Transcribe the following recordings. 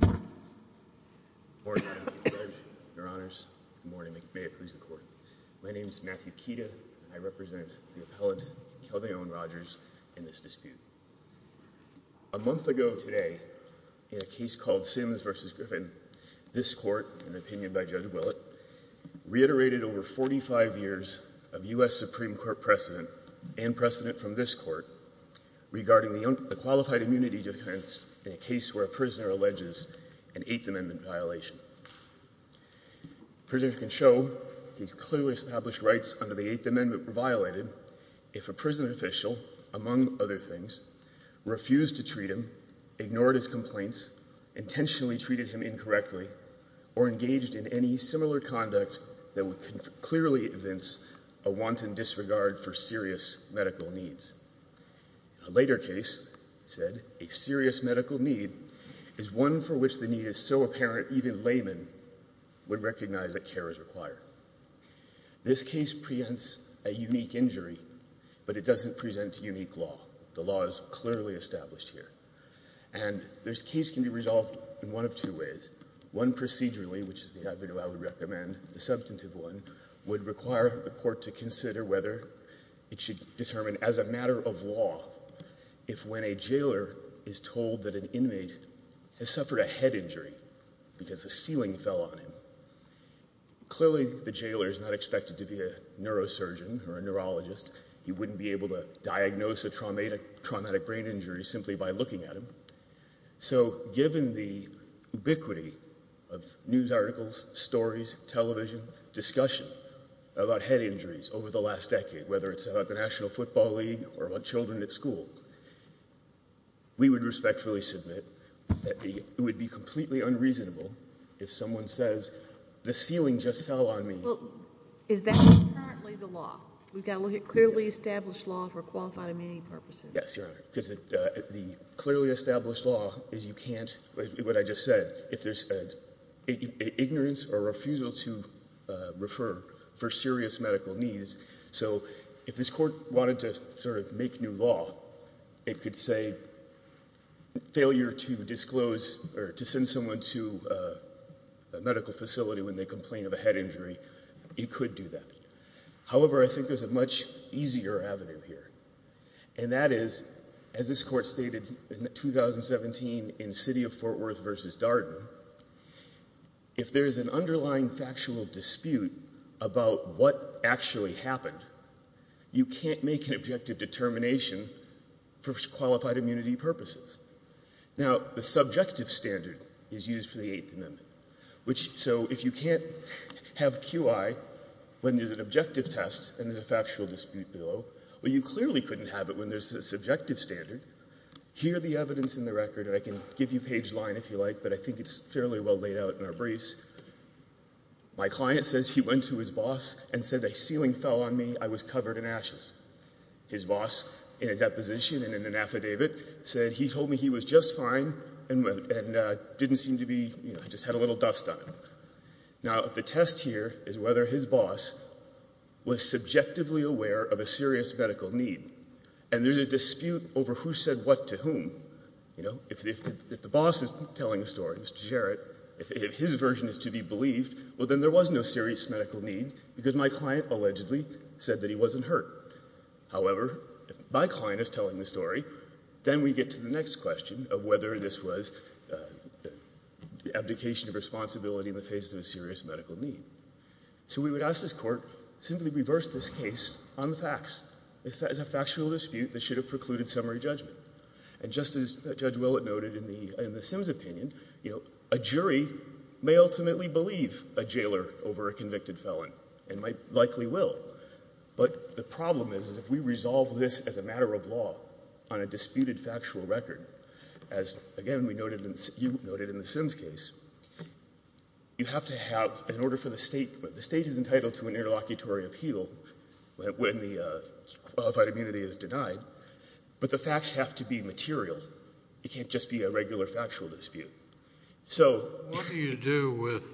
Good morning, Your Honors. Good morning. May it please the Court. My name is Matthew Kieda and I represent the appellant, Kelvin Owen Rogers, in this dispute. A month ago today, in a case called Simms v. Griffin, this Court, in the opinion of Judge Willett, reiterated over 45 years of U.S. Supreme Court precedent and precedent from this Court regarding the qualified immunity defense in a case where a prisoner alleges an Eighth Amendment violation. Prisoners can show these clearly established rights under the Eighth Amendment were violated if a prison official, among other things, refused to treat him, ignored his complaints, intentionally treated him incorrectly, or engaged in any similar conduct that would clearly evince a wanton disregard for serious medical needs. A later case said a serious medical need is one for which the need is so apparent even laymen would recognize that care is required. This case preempts a unique injury, but it doesn't present a unique law. The law is clearly established here. And this case can be resolved in one of two ways. One procedurally, which is the avenue I would recommend. The substantive one would require the Court to consider whether it should determine, as a matter of law, if when a jailer is told that an inmate has suffered a head injury because a ceiling fell on him, clearly the jailer is not expected to be a neurosurgeon or a neurologist. He wouldn't be able to diagnose a traumatic brain injury simply by looking at him. So given the ubiquity of news articles, stories, television, discussion about head injuries over the last decade, whether it's about the National Football League or about children at school, we would respectfully submit that it would be completely unreasonable if someone says the ceiling just fell on me. Well, is that currently the law? We've got to look at clearly established law for qualified inmate purposes. Yes, Your Honor, because the clearly established law is you can't, what I just said, if there's ignorance or refusal to refer for serious medical needs. So if this Court wanted to sort of make new law, it could say failure to disclose or to send someone to a medical facility when they complain of a head injury, it could do that. However, I think there's a much easier avenue here. And that is, as this Court stated in 2017 in City of Fort Worth v. Darden, if there's an underlying factual dispute about what actually happened, you can't make an objective determination for qualified immunity purposes. Now, the subjective standard is used for the Eighth Amendment. So if you can't have QI when there's an objective test and there's a factual dispute below, well, you clearly couldn't have it when there's a subjective standard. Here are the evidence in the record, and I can give you page line if you like, but I think it's fairly well laid out in our briefs. My client says he went to his boss and said the ceiling fell on me, I was covered in ashes. His boss, in his deposition and in an affidavit, said he told me he was just fine and didn't seem to be, you know, just had a little dust on him. Now, the test here is whether his boss was subjectively aware of a serious medical need. And there's a dispute over who said what to whom. You know, if the boss is telling a story, Mr. Jarrett, if his version is to be believed, well, then there was no serious medical need because my client allegedly said that he wasn't hurt. However, if my client is telling the story, then we get to the next question of whether this was abdication of responsibility in the face of a serious medical need. So we would ask this Court, simply reverse this case on the facts, as a factual dispute that should have precluded summary judgment. And just as Judge Willett noted in the Sims' opinion, you know, a jury may ultimately believe a jailer over a convicted felon and likely will. But the problem is, is if we resolve this as a matter of law on a disputed factual record, as, again, you noted in the Sims' case, you have to have an order for the State. The State is entitled to an interlocutory appeal when the qualified immunity is denied. But the facts have to be material. It can't just be a regular factual dispute. So what do you do with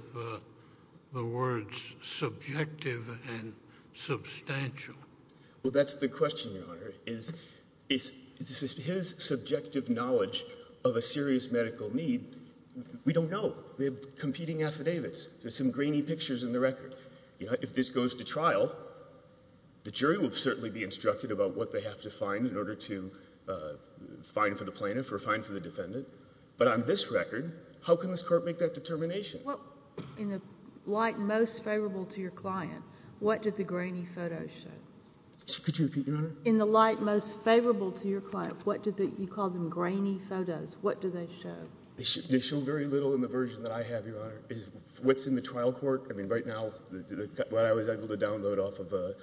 the words subjective and substantial? Well, that's the question, Your Honor, is if his subjective knowledge of a serious medical need, we don't know. We have competing affidavits. There's some grainy pictures in the record. If this goes to trial, the jury will certainly be instructed about what they have to find in order to find for the plaintiff or find for the defendant. But on this record, how can this court make that determination? Well, in the light most favorable to your client, what did the grainy photos show? Could you repeat, Your Honor? In the light most favorable to your client, what did the – you called them grainy photos. What do they show? They show very little in the version that I have, Your Honor. What's in the trial court, I mean, right now, what I was able to download off of the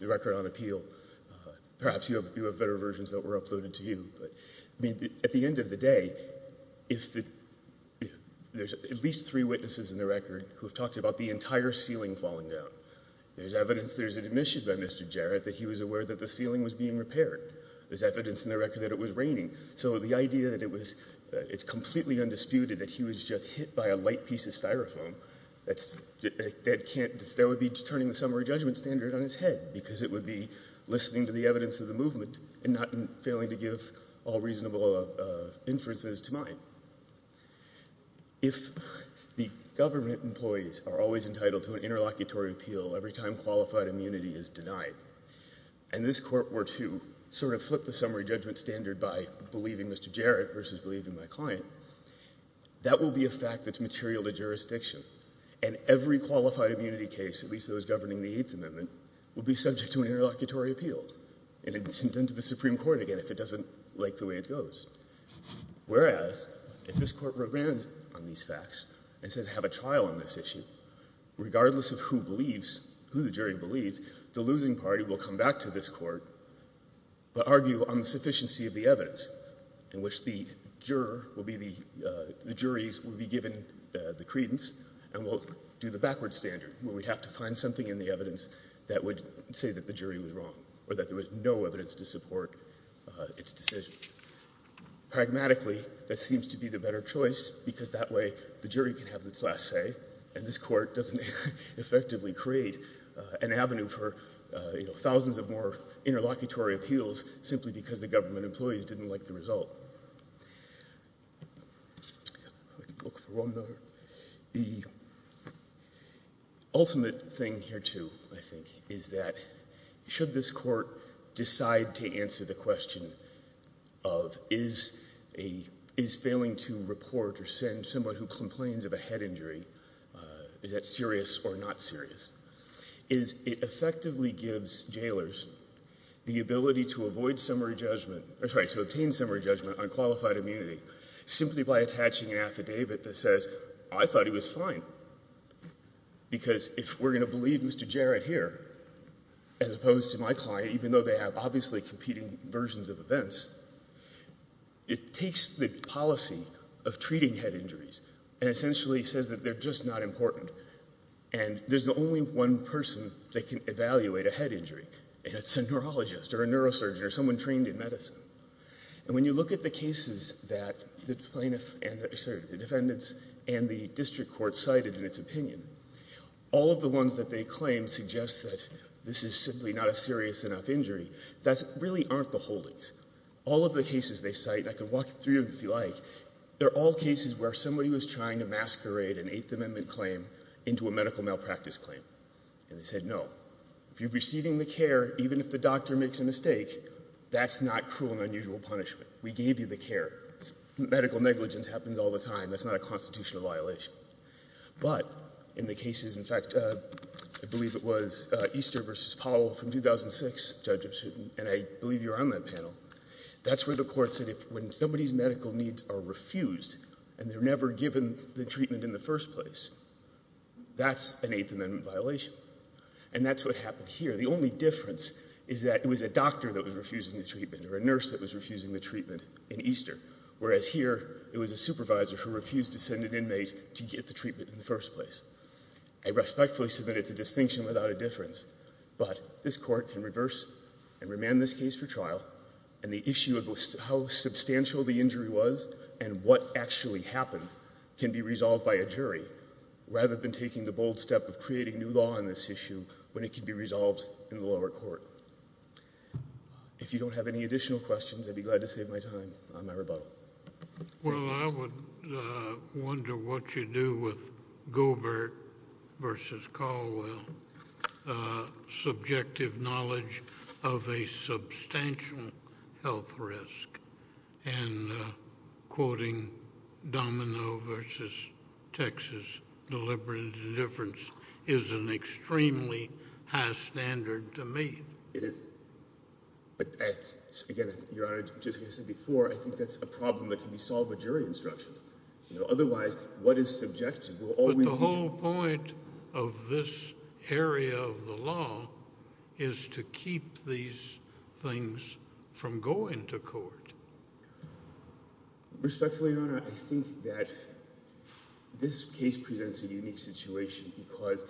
record on appeal. Perhaps you have better versions that were uploaded to you. But at the end of the day, if the – there's at least three witnesses in the record who have talked about the entire ceiling falling down. There's evidence there's an admission by Mr. Jarrett that he was aware that the ceiling was being repaired. There's evidence in the record that it was raining. So the idea that it was – it's completely undisputed that he was just hit by a light piece of styrofoam, that can't – that would be turning the summary judgment standard on its head because it would be listening to the evidence of the movement and not failing to give all reasonable inferences to mine. If the government employees are always entitled to an interlocutory appeal every time qualified immunity is denied, and this court were to sort of flip the summary judgment standard by believing Mr. Jarrett versus believing my client, that will be a fact that's material to jurisdiction. And every qualified immunity case, at least those governing the Eighth Amendment, will be subject to an interlocutory appeal. And it's intended to the Supreme Court, again, if it doesn't like the way it goes. Whereas, if this court rebrands on these facts and says have a trial on this issue, regardless of who believes – who the jury believes, the losing party will come back to this court but argue on the sufficiency of the evidence in which the juror will be the – the juries will be given the credence and will do the backward standard where we'd have to find something in the evidence that would say that the jury was wrong or that there was no evidence to support its decision. Pragmatically, that seems to be the better choice because that way the jury can have its last say and this court doesn't effectively create an avenue for, you know, thousands of more interlocutory appeals simply because the government employees didn't like the result. The ultimate thing here, too, I think, is that should this court decide to answer the question of is a – is failing to report or send someone who complains of a head injury, is that serious or not serious? is it effectively gives jailers the ability to avoid summary judgment – I'm sorry, to obtain summary judgment on qualified immunity simply by attaching an affidavit that says I thought he was fine because if we're going to believe Mr. Jarrett here as opposed to my client, even though they have obviously competing versions of events, it takes the policy of treating head injuries and essentially says that they're just not important and there's only one person that can evaluate a head injury, and it's a neurologist or a neurosurgeon or someone trained in medicine. And when you look at the cases that the plaintiff – sorry, the defendants and the district court cited in its opinion, all of the ones that they claim suggest that this is simply not a serious enough injury, that really aren't the holdings. All of the cases they cite – I could walk through them if you like – they're all cases where somebody was trying to masquerade an Eighth Amendment claim into a medical malpractice claim. And they said no. If you're receiving the care, even if the doctor makes a mistake, that's not cruel and unusual punishment. We gave you the care. Medical negligence happens all the time. That's not a constitutional violation. But in the cases – in fact, I believe it was Easter v. Powell from 2006, Judge Epstein, and I believe you were on that panel – that's where the court said when somebody's medical needs are refused and they're never given the treatment in the first place, that's an Eighth Amendment violation. And that's what happened here. The only difference is that it was a doctor that was refusing the treatment or a nurse that was refusing the treatment in Easter, whereas here it was a supervisor who refused to send an inmate to get the treatment in the first place. I respectfully submit it's a distinction without a difference. But this court can reverse and remand this case for trial, and the issue of how substantial the injury was and what actually happened can be resolved by a jury rather than taking the bold step of creating new law on this issue when it can be resolved in the lower court. If you don't have any additional questions, I'd be glad to save my time on my rebuttal. Well, I would wonder what you do with Gobert v. Caldwell. Subjective knowledge of a substantial health risk and quoting Domino v. Texas, deliberate indifference is an extremely high standard to meet. It is. But again, Your Honor, just as I said before, I think that's a problem that can be solved by jury instructions. Otherwise, what is subjective? But the whole point of this area of the law is to keep these things from going to court. Respectfully, Your Honor, I think that this case presents a unique situation because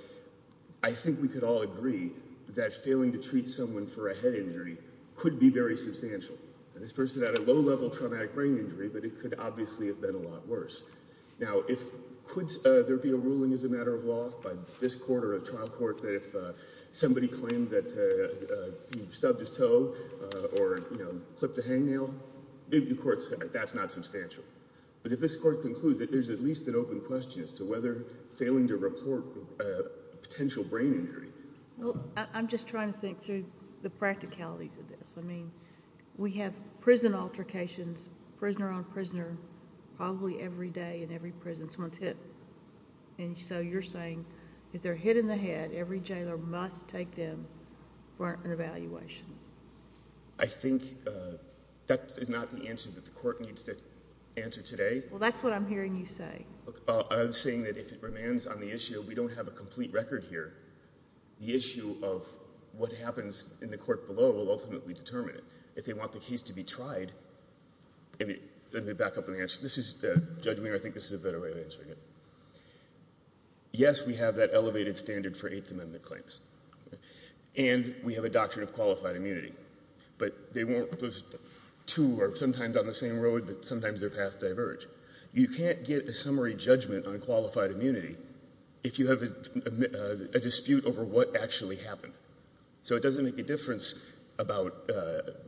I think we could all agree that failing to treat someone for a head injury could be very substantial. This person had a low-level traumatic brain injury, but it could obviously have been a lot worse. Now, could there be a ruling as a matter of law by this court or a trial court that if somebody claimed that he stubbed his toe or clipped a hangnail, the court said that's not substantial. But if this court concludes that there's at least an open question as to whether failing to report a potential brain injury... Well, I'm just trying to think through the practicalities of this. I mean, we have prison altercations, prisoner on prisoner, probably every day in every prison someone's hit. And so you're saying if they're hit in the head, every jailer must take them for an evaluation. I think that is not the answer that the court needs to answer today. Well, that's what I'm hearing you say. I'm saying that if it remains on the issue, we don't have a complete record here. The issue of what happens in the court below will ultimately determine it. If they want the case to be tried... let me back up on the answer. Judge Mayer, I think this is a better way of answering it. Yes, we have that elevated standard for Eighth Amendment claims. And we have a doctrine of qualified immunity. But those two are sometimes on the same road, but sometimes their paths diverge. You can't get a summary judgment on qualified immunity if you have a dispute over what actually happened. So it doesn't make a difference about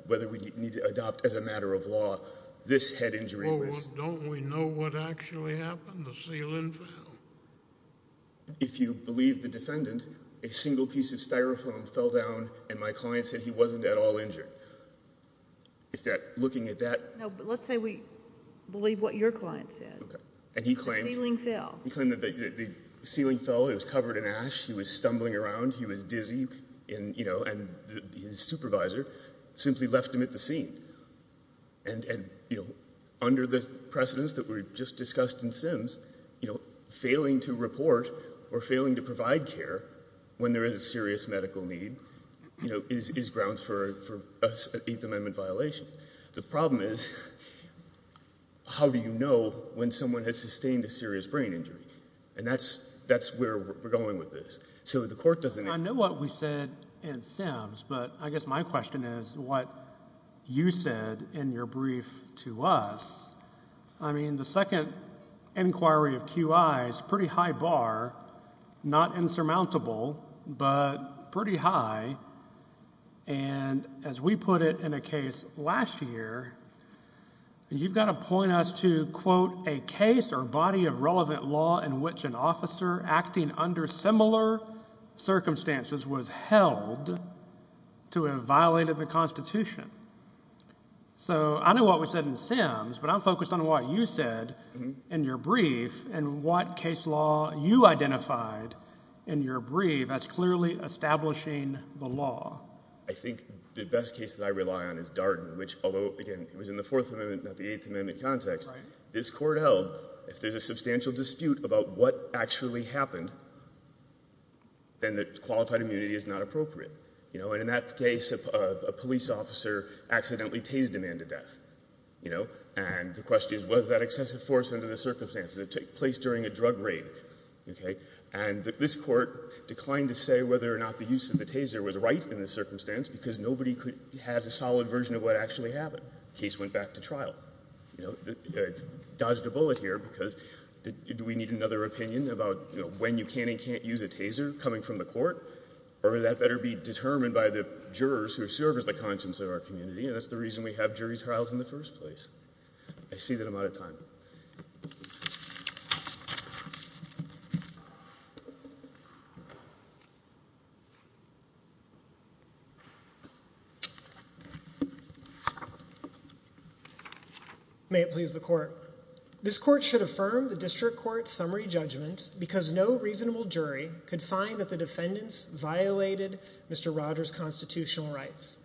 whether we need to adopt as a matter of law this head injury... Well, don't we know what actually happened, the ceiling fell? If you believe the defendant, a single piece of Styrofoam fell down and my client said he wasn't at all injured. If that... looking at that... No, but let's say we believe what your client said. And he claimed... The ceiling fell. He claimed that the ceiling fell. It was covered in ash. He was stumbling around. He was dizzy. And, you know, his supervisor simply left him at the scene. And, you know, under the precedence that we just discussed in Sims, you know, failing to report or failing to provide care... when there is a serious medical need, you know, is grounds for an Eighth Amendment violation. The problem is, how do you know when someone has sustained a serious brain injury? And that's where we're going with this. I mean, I know what we said in Sims, but I guess my question is what you said in your brief to us. I mean, the second inquiry of QI is pretty high bar, not insurmountable, but pretty high. And, as we put it in a case last year, you've got to point us to, quote, a case or body of relevant law in which an officer acting under similar circumstances was held to have violated the Constitution. So, I know what we said in Sims, but I'm focused on what you said in your brief and what case law you identified in your brief as clearly establishing the law. I think the best case that I rely on is Darden, which although, again, it was in the Fourth Amendment, not the Eighth Amendment context. This court held, if there's a substantial dispute about what actually happened, then the qualified immunity is not appropriate. And in that case, a police officer accidentally tased a man to death. And the question is, was that excessive force under the circumstances? It took place during a drug raid. And this court declined to say whether or not the use of the taser was right in the circumstance because nobody had a solid version of what actually happened. The case went back to trial. I dodged a bullet here because do we need another opinion about when you can and can't use a taser coming from the court? Or that better be determined by the jurors who serve as the conscience of our community. And that's the reason we have jury trials in the first place. I see that I'm out of time. May it please the court. This court should affirm the district court summary judgment because no reasonable jury could find that the defendants violated Mr. Rogers' constitutional rights.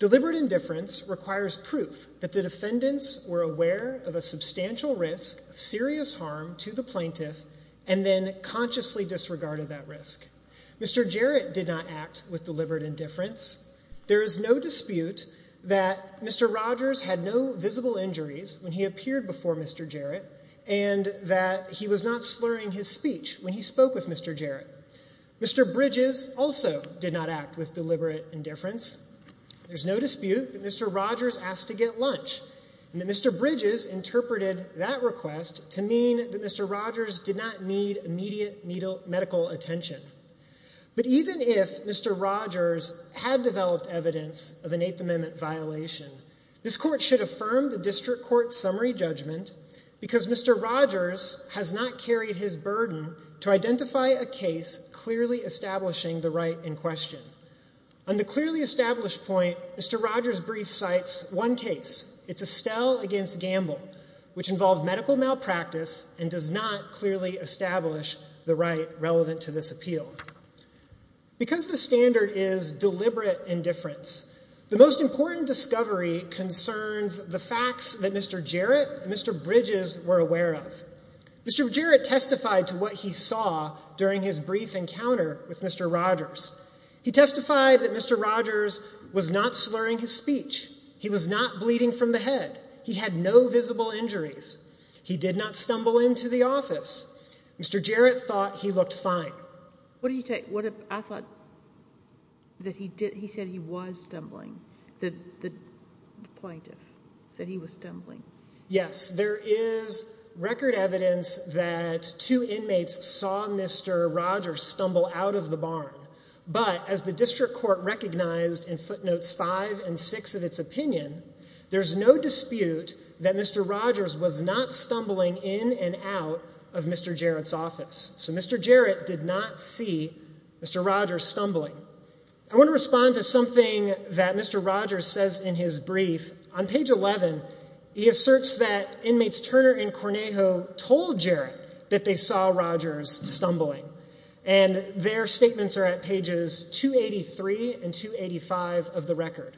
Deliberate indifference requires proof that the defendants were aware of a substantial risk of serious harm to the plaintiff and then consciously disregarded that risk. Mr. Jarrett did not act with deliberate indifference. There is no dispute that Mr. Rogers had no visible injuries when he appeared before Mr. Jarrett and that he was not slurring his speech when he spoke with Mr. Jarrett. Mr. Bridges also did not act with deliberate indifference. There's no dispute that Mr. Rogers asked to get lunch and that Mr. Bridges interpreted that request to mean that Mr. Rogers did not need immediate medical attention. But even if Mr. Rogers had developed evidence of an Eighth Amendment violation, this court should affirm the district court summary judgment because Mr. Rogers has not carried his burden to identify a case clearly establishing the right in question. On the clearly established point, Mr. Rogers' brief cites one case. It's Estelle against Gamble, which involved medical malpractice and does not clearly establish the right relevant to this appeal. Because the standard is deliberate indifference, the most important discovery concerns the facts that Mr. Jarrett and Mr. Bridges were aware of. Mr. Jarrett testified to what he saw during his brief encounter with Mr. Rogers. He testified that Mr. Rogers was not slurring his speech. He was not bleeding from the head. He had no visible injuries. He did not stumble into the office. Mr. Jarrett thought he looked fine. What do you take? I thought that he said he was stumbling. The plaintiff said he was stumbling. Yes, there is record evidence that two inmates saw Mr. Rogers stumble out of the barn. But as the district court recognized in footnotes five and six of its opinion, there's no dispute that Mr. Rogers was not stumbling in and out of Mr. Jarrett's office. So Mr. Jarrett did not see Mr. Rogers stumbling. I want to respond to something that Mr. Rogers says in his brief. On page 11, he asserts that inmates Turner and Cornejo told Jarrett that they saw Rogers stumbling. And their statements are at pages 283 and 285 of the record.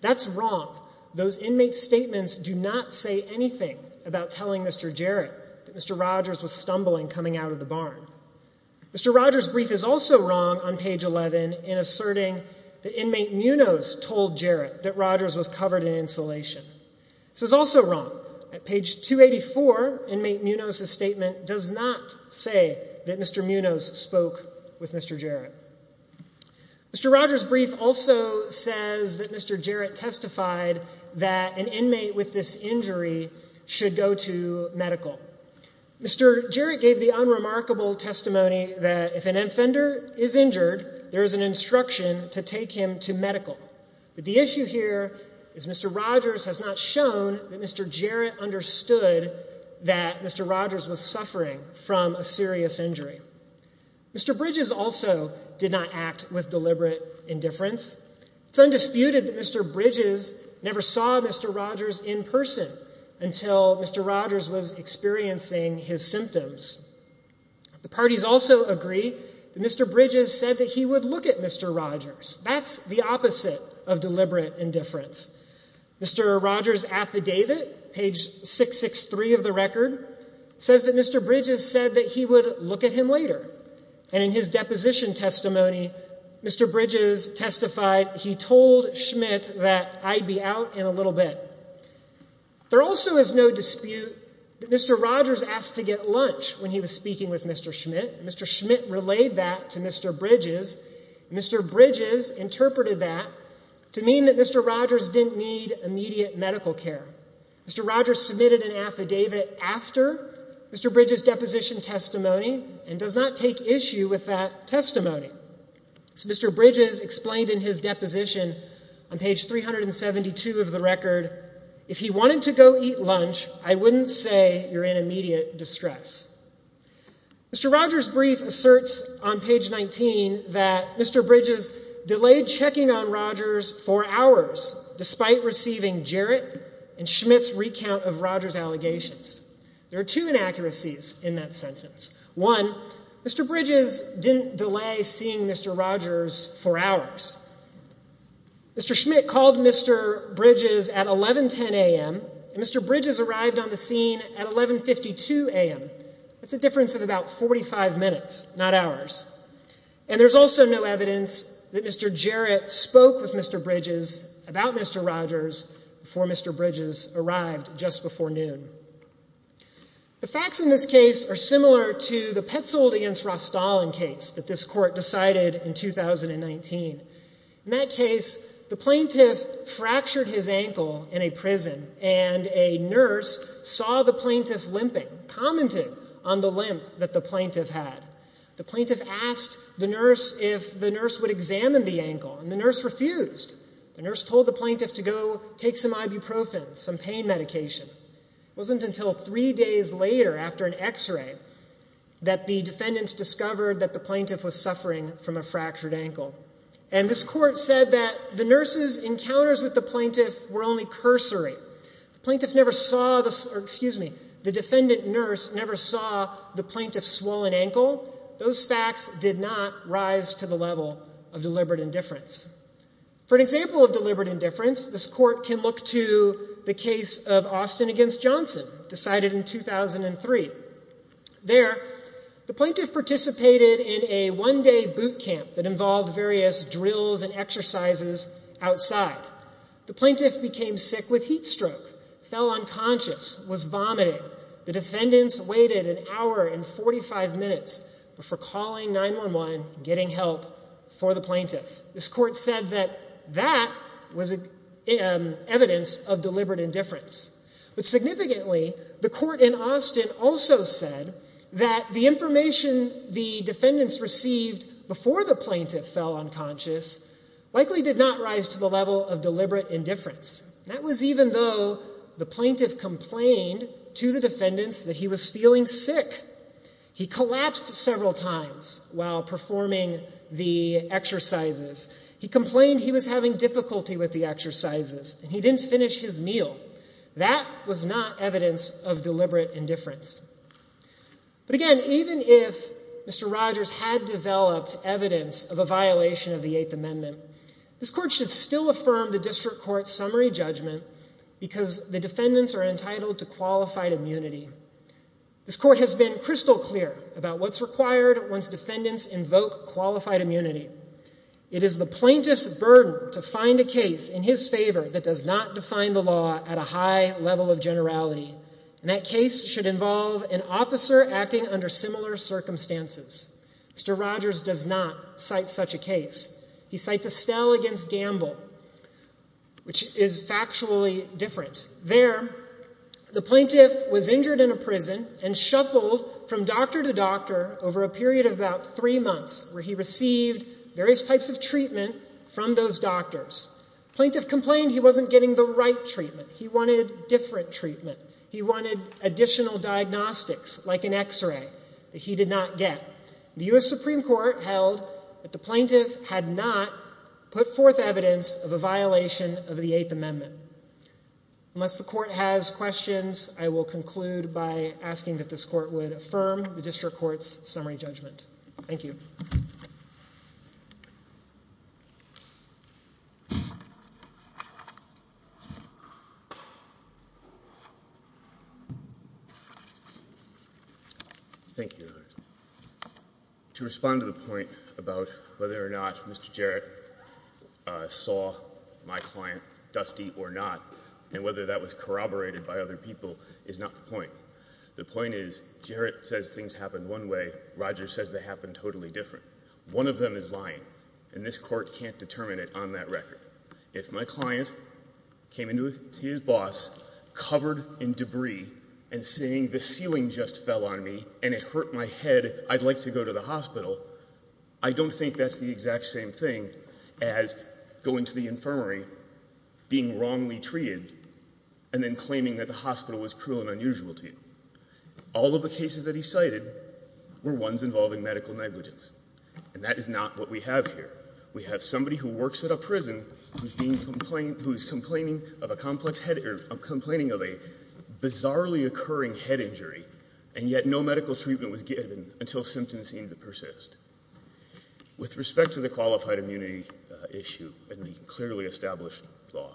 That's wrong. Those inmates' statements do not say anything about telling Mr. Jarrett that Mr. Rogers was stumbling coming out of the barn. Mr. Rogers' brief is also wrong on page 11 in asserting that inmate Munoz told Jarrett that Rogers was covered in insulation. This is also wrong. At page 284, inmate Munoz's statement does not say that Mr. Munoz spoke with Mr. Jarrett. Mr. Rogers' brief also says that Mr. Jarrett testified that an inmate with this injury should go to medical. Mr. Jarrett gave the unremarkable testimony that if an offender is injured, there is an instruction to take him to medical. But the issue here is Mr. Rogers has not shown that Mr. Jarrett understood that Mr. Rogers was suffering from a serious injury. Mr. Bridges also did not act with deliberate indifference. It's undisputed that Mr. Bridges never saw Mr. Rogers in person until Mr. Rogers was experiencing his symptoms. The parties also agree that Mr. Bridges said that he would look at Mr. Rogers. That's the opposite of deliberate indifference. Mr. Rogers' affidavit, page 663 of the record, says that Mr. Bridges said that he would look at him later. And in his deposition testimony, Mr. Bridges testified he told Schmidt that I'd be out in a little bit. There also is no dispute that Mr. Rogers asked to get lunch when he was speaking with Mr. Schmidt. Mr. Schmidt relayed that to Mr. Bridges. Mr. Bridges interpreted that to mean that Mr. Rogers didn't need immediate medical care. Mr. Rogers submitted an affidavit after Mr. Bridges' deposition testimony and does not take issue with that testimony. As Mr. Bridges explained in his deposition on page 372 of the record, if he wanted to go eat lunch, I wouldn't say you're in immediate distress. Mr. Rogers' brief asserts on page 19 that Mr. Bridges delayed checking on Rogers for hours despite receiving Jarrett and Schmidt's recount of Rogers' allegations. There are two inaccuracies in that sentence. One, Mr. Bridges didn't delay seeing Mr. Rogers for hours. Mr. Schmidt called Mr. Bridges at 1110 a.m., and Mr. Bridges arrived on the scene at 1152 a.m. That's a difference of about 45 minutes, not hours. And there's also no evidence that Mr. Jarrett spoke with Mr. Bridges about Mr. Rogers before Mr. Bridges arrived just before noon. The facts in this case are similar to the Petzold against Rostall in case that this court decided in 2019. In that case, the plaintiff fractured his ankle in a prison, and a nurse saw the plaintiff limping, commented on the limp that the plaintiff had. The plaintiff asked the nurse if the nurse would examine the ankle, and the nurse refused. The nurse told the plaintiff to go take some ibuprofen, some pain medication. It wasn't until three days later after an x-ray that the defendants discovered that the plaintiff was suffering from a fractured ankle. And this court said that the nurse's encounters with the plaintiff were only cursory. The plaintiff never saw the—excuse me, the defendant nurse never saw the plaintiff's swollen ankle. Those facts did not rise to the level of deliberate indifference. For an example of deliberate indifference, this court can look to the case of Austin against Johnson, decided in 2003. There, the plaintiff participated in a one-day boot camp that involved various drills and exercises outside. The plaintiff became sick with heat stroke, fell unconscious, was vomiting. The defendants waited an hour and 45 minutes before calling 911 and getting help for the plaintiff. This court said that that was evidence of deliberate indifference. But significantly, the court in Austin also said that the information the defendants received before the plaintiff fell unconscious likely did not rise to the level of deliberate indifference. That was even though the plaintiff complained to the defendants that he was feeling sick. He collapsed several times while performing the exercises. He complained he was having difficulty with the exercises and he didn't finish his meal. That was not evidence of deliberate indifference. But again, even if Mr. Rogers had developed evidence of a violation of the Eighth Amendment, this court should still affirm the district court's summary judgment because the defendants are entitled to qualified immunity. This court has been crystal clear about what's required once defendants invoke qualified immunity. It is the plaintiff's burden to find a case in his favor that does not define the law at a high level of generality. And that case should involve an officer acting under similar circumstances. Mr. Rogers does not cite such a case. He cites Estelle against Gamble, which is factually different. There, the plaintiff was injured in a prison and shuffled from doctor to doctor over a period of about three months where he received various types of treatment from those doctors. The plaintiff complained he wasn't getting the right treatment. He wanted different treatment. He wanted additional diagnostics like an x-ray that he did not get. The U.S. Supreme Court held that the plaintiff had not put forth evidence of a violation of the Eighth Amendment. Unless the court has questions, I will conclude by asking that this court would affirm the district court's summary judgment. Thank you. Thank you, Your Honor. To respond to the point about whether or not Mr. Jarrett saw my client dusty or not and whether that was corroborated by other people is not the point. The point is Jarrett says things happen one way. Rogers says they happen totally different. One of them is lying, and this court can't determine it on that record. If my client came in to see his boss covered in debris and saying the ceiling just fell on me and it hurt my head, I'd like to go to the hospital, I don't think that's the exact same thing as going to the infirmary, being wrongly treated, and then claiming that the hospital was cruel and unusual to you. All of the cases that he cited were ones involving medical negligence, and that is not what we have here. We have somebody who works at a prison who is complaining of a bizarrely occurring head injury, and yet no medical treatment was given until symptoms seemed to persist. With respect to the qualified immunity issue and the clearly established law,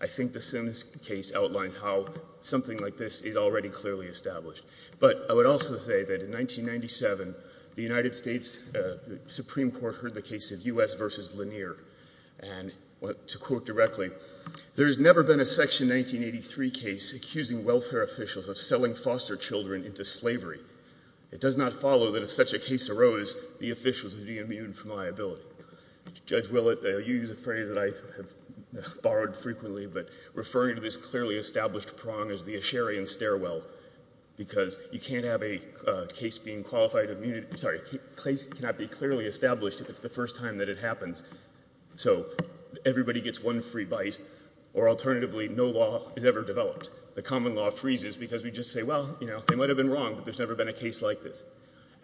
I think the Simmons case outlined how something like this is already clearly established. But I would also say that in 1997, the United States Supreme Court heard the case of U.S. v. Lanier, and to quote directly, there has never been a Section 1983 case accusing welfare officials of selling foster children into slavery. It does not follow that if such a case arose, the officials would be immune from liability. Judge Willett, you use a phrase that I have borrowed frequently, but referring to this clearly established prong is the Asherian stairwell, because you can't have a case being qualified immunity, sorry, a case cannot be clearly established if it's the first time that it happens. So everybody gets one free bite, or alternatively, no law is ever developed. The common law freezes because we just say, well, you know, they might have been wrong, but there's never been a case like this.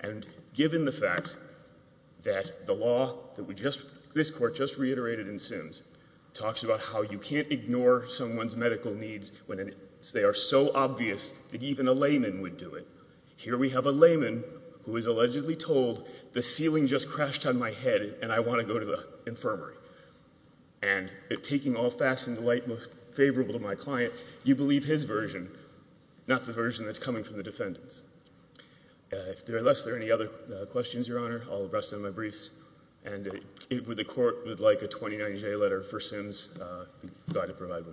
And given the fact that the law that we just, this Court just reiterated in Simms, talks about how you can't ignore someone's medical needs when they are so obvious that even a layman would do it. Here we have a layman who is allegedly told the ceiling just crashed on my head and I want to go to the infirmary. And taking all facts into light most favorable to my client, you believe his version, not the version that's coming from the defendants. Unless there are any other questions, Your Honor, I'll rest on my briefs. And if the Court would like a 2090-J letter for Simms, be glad to provide one.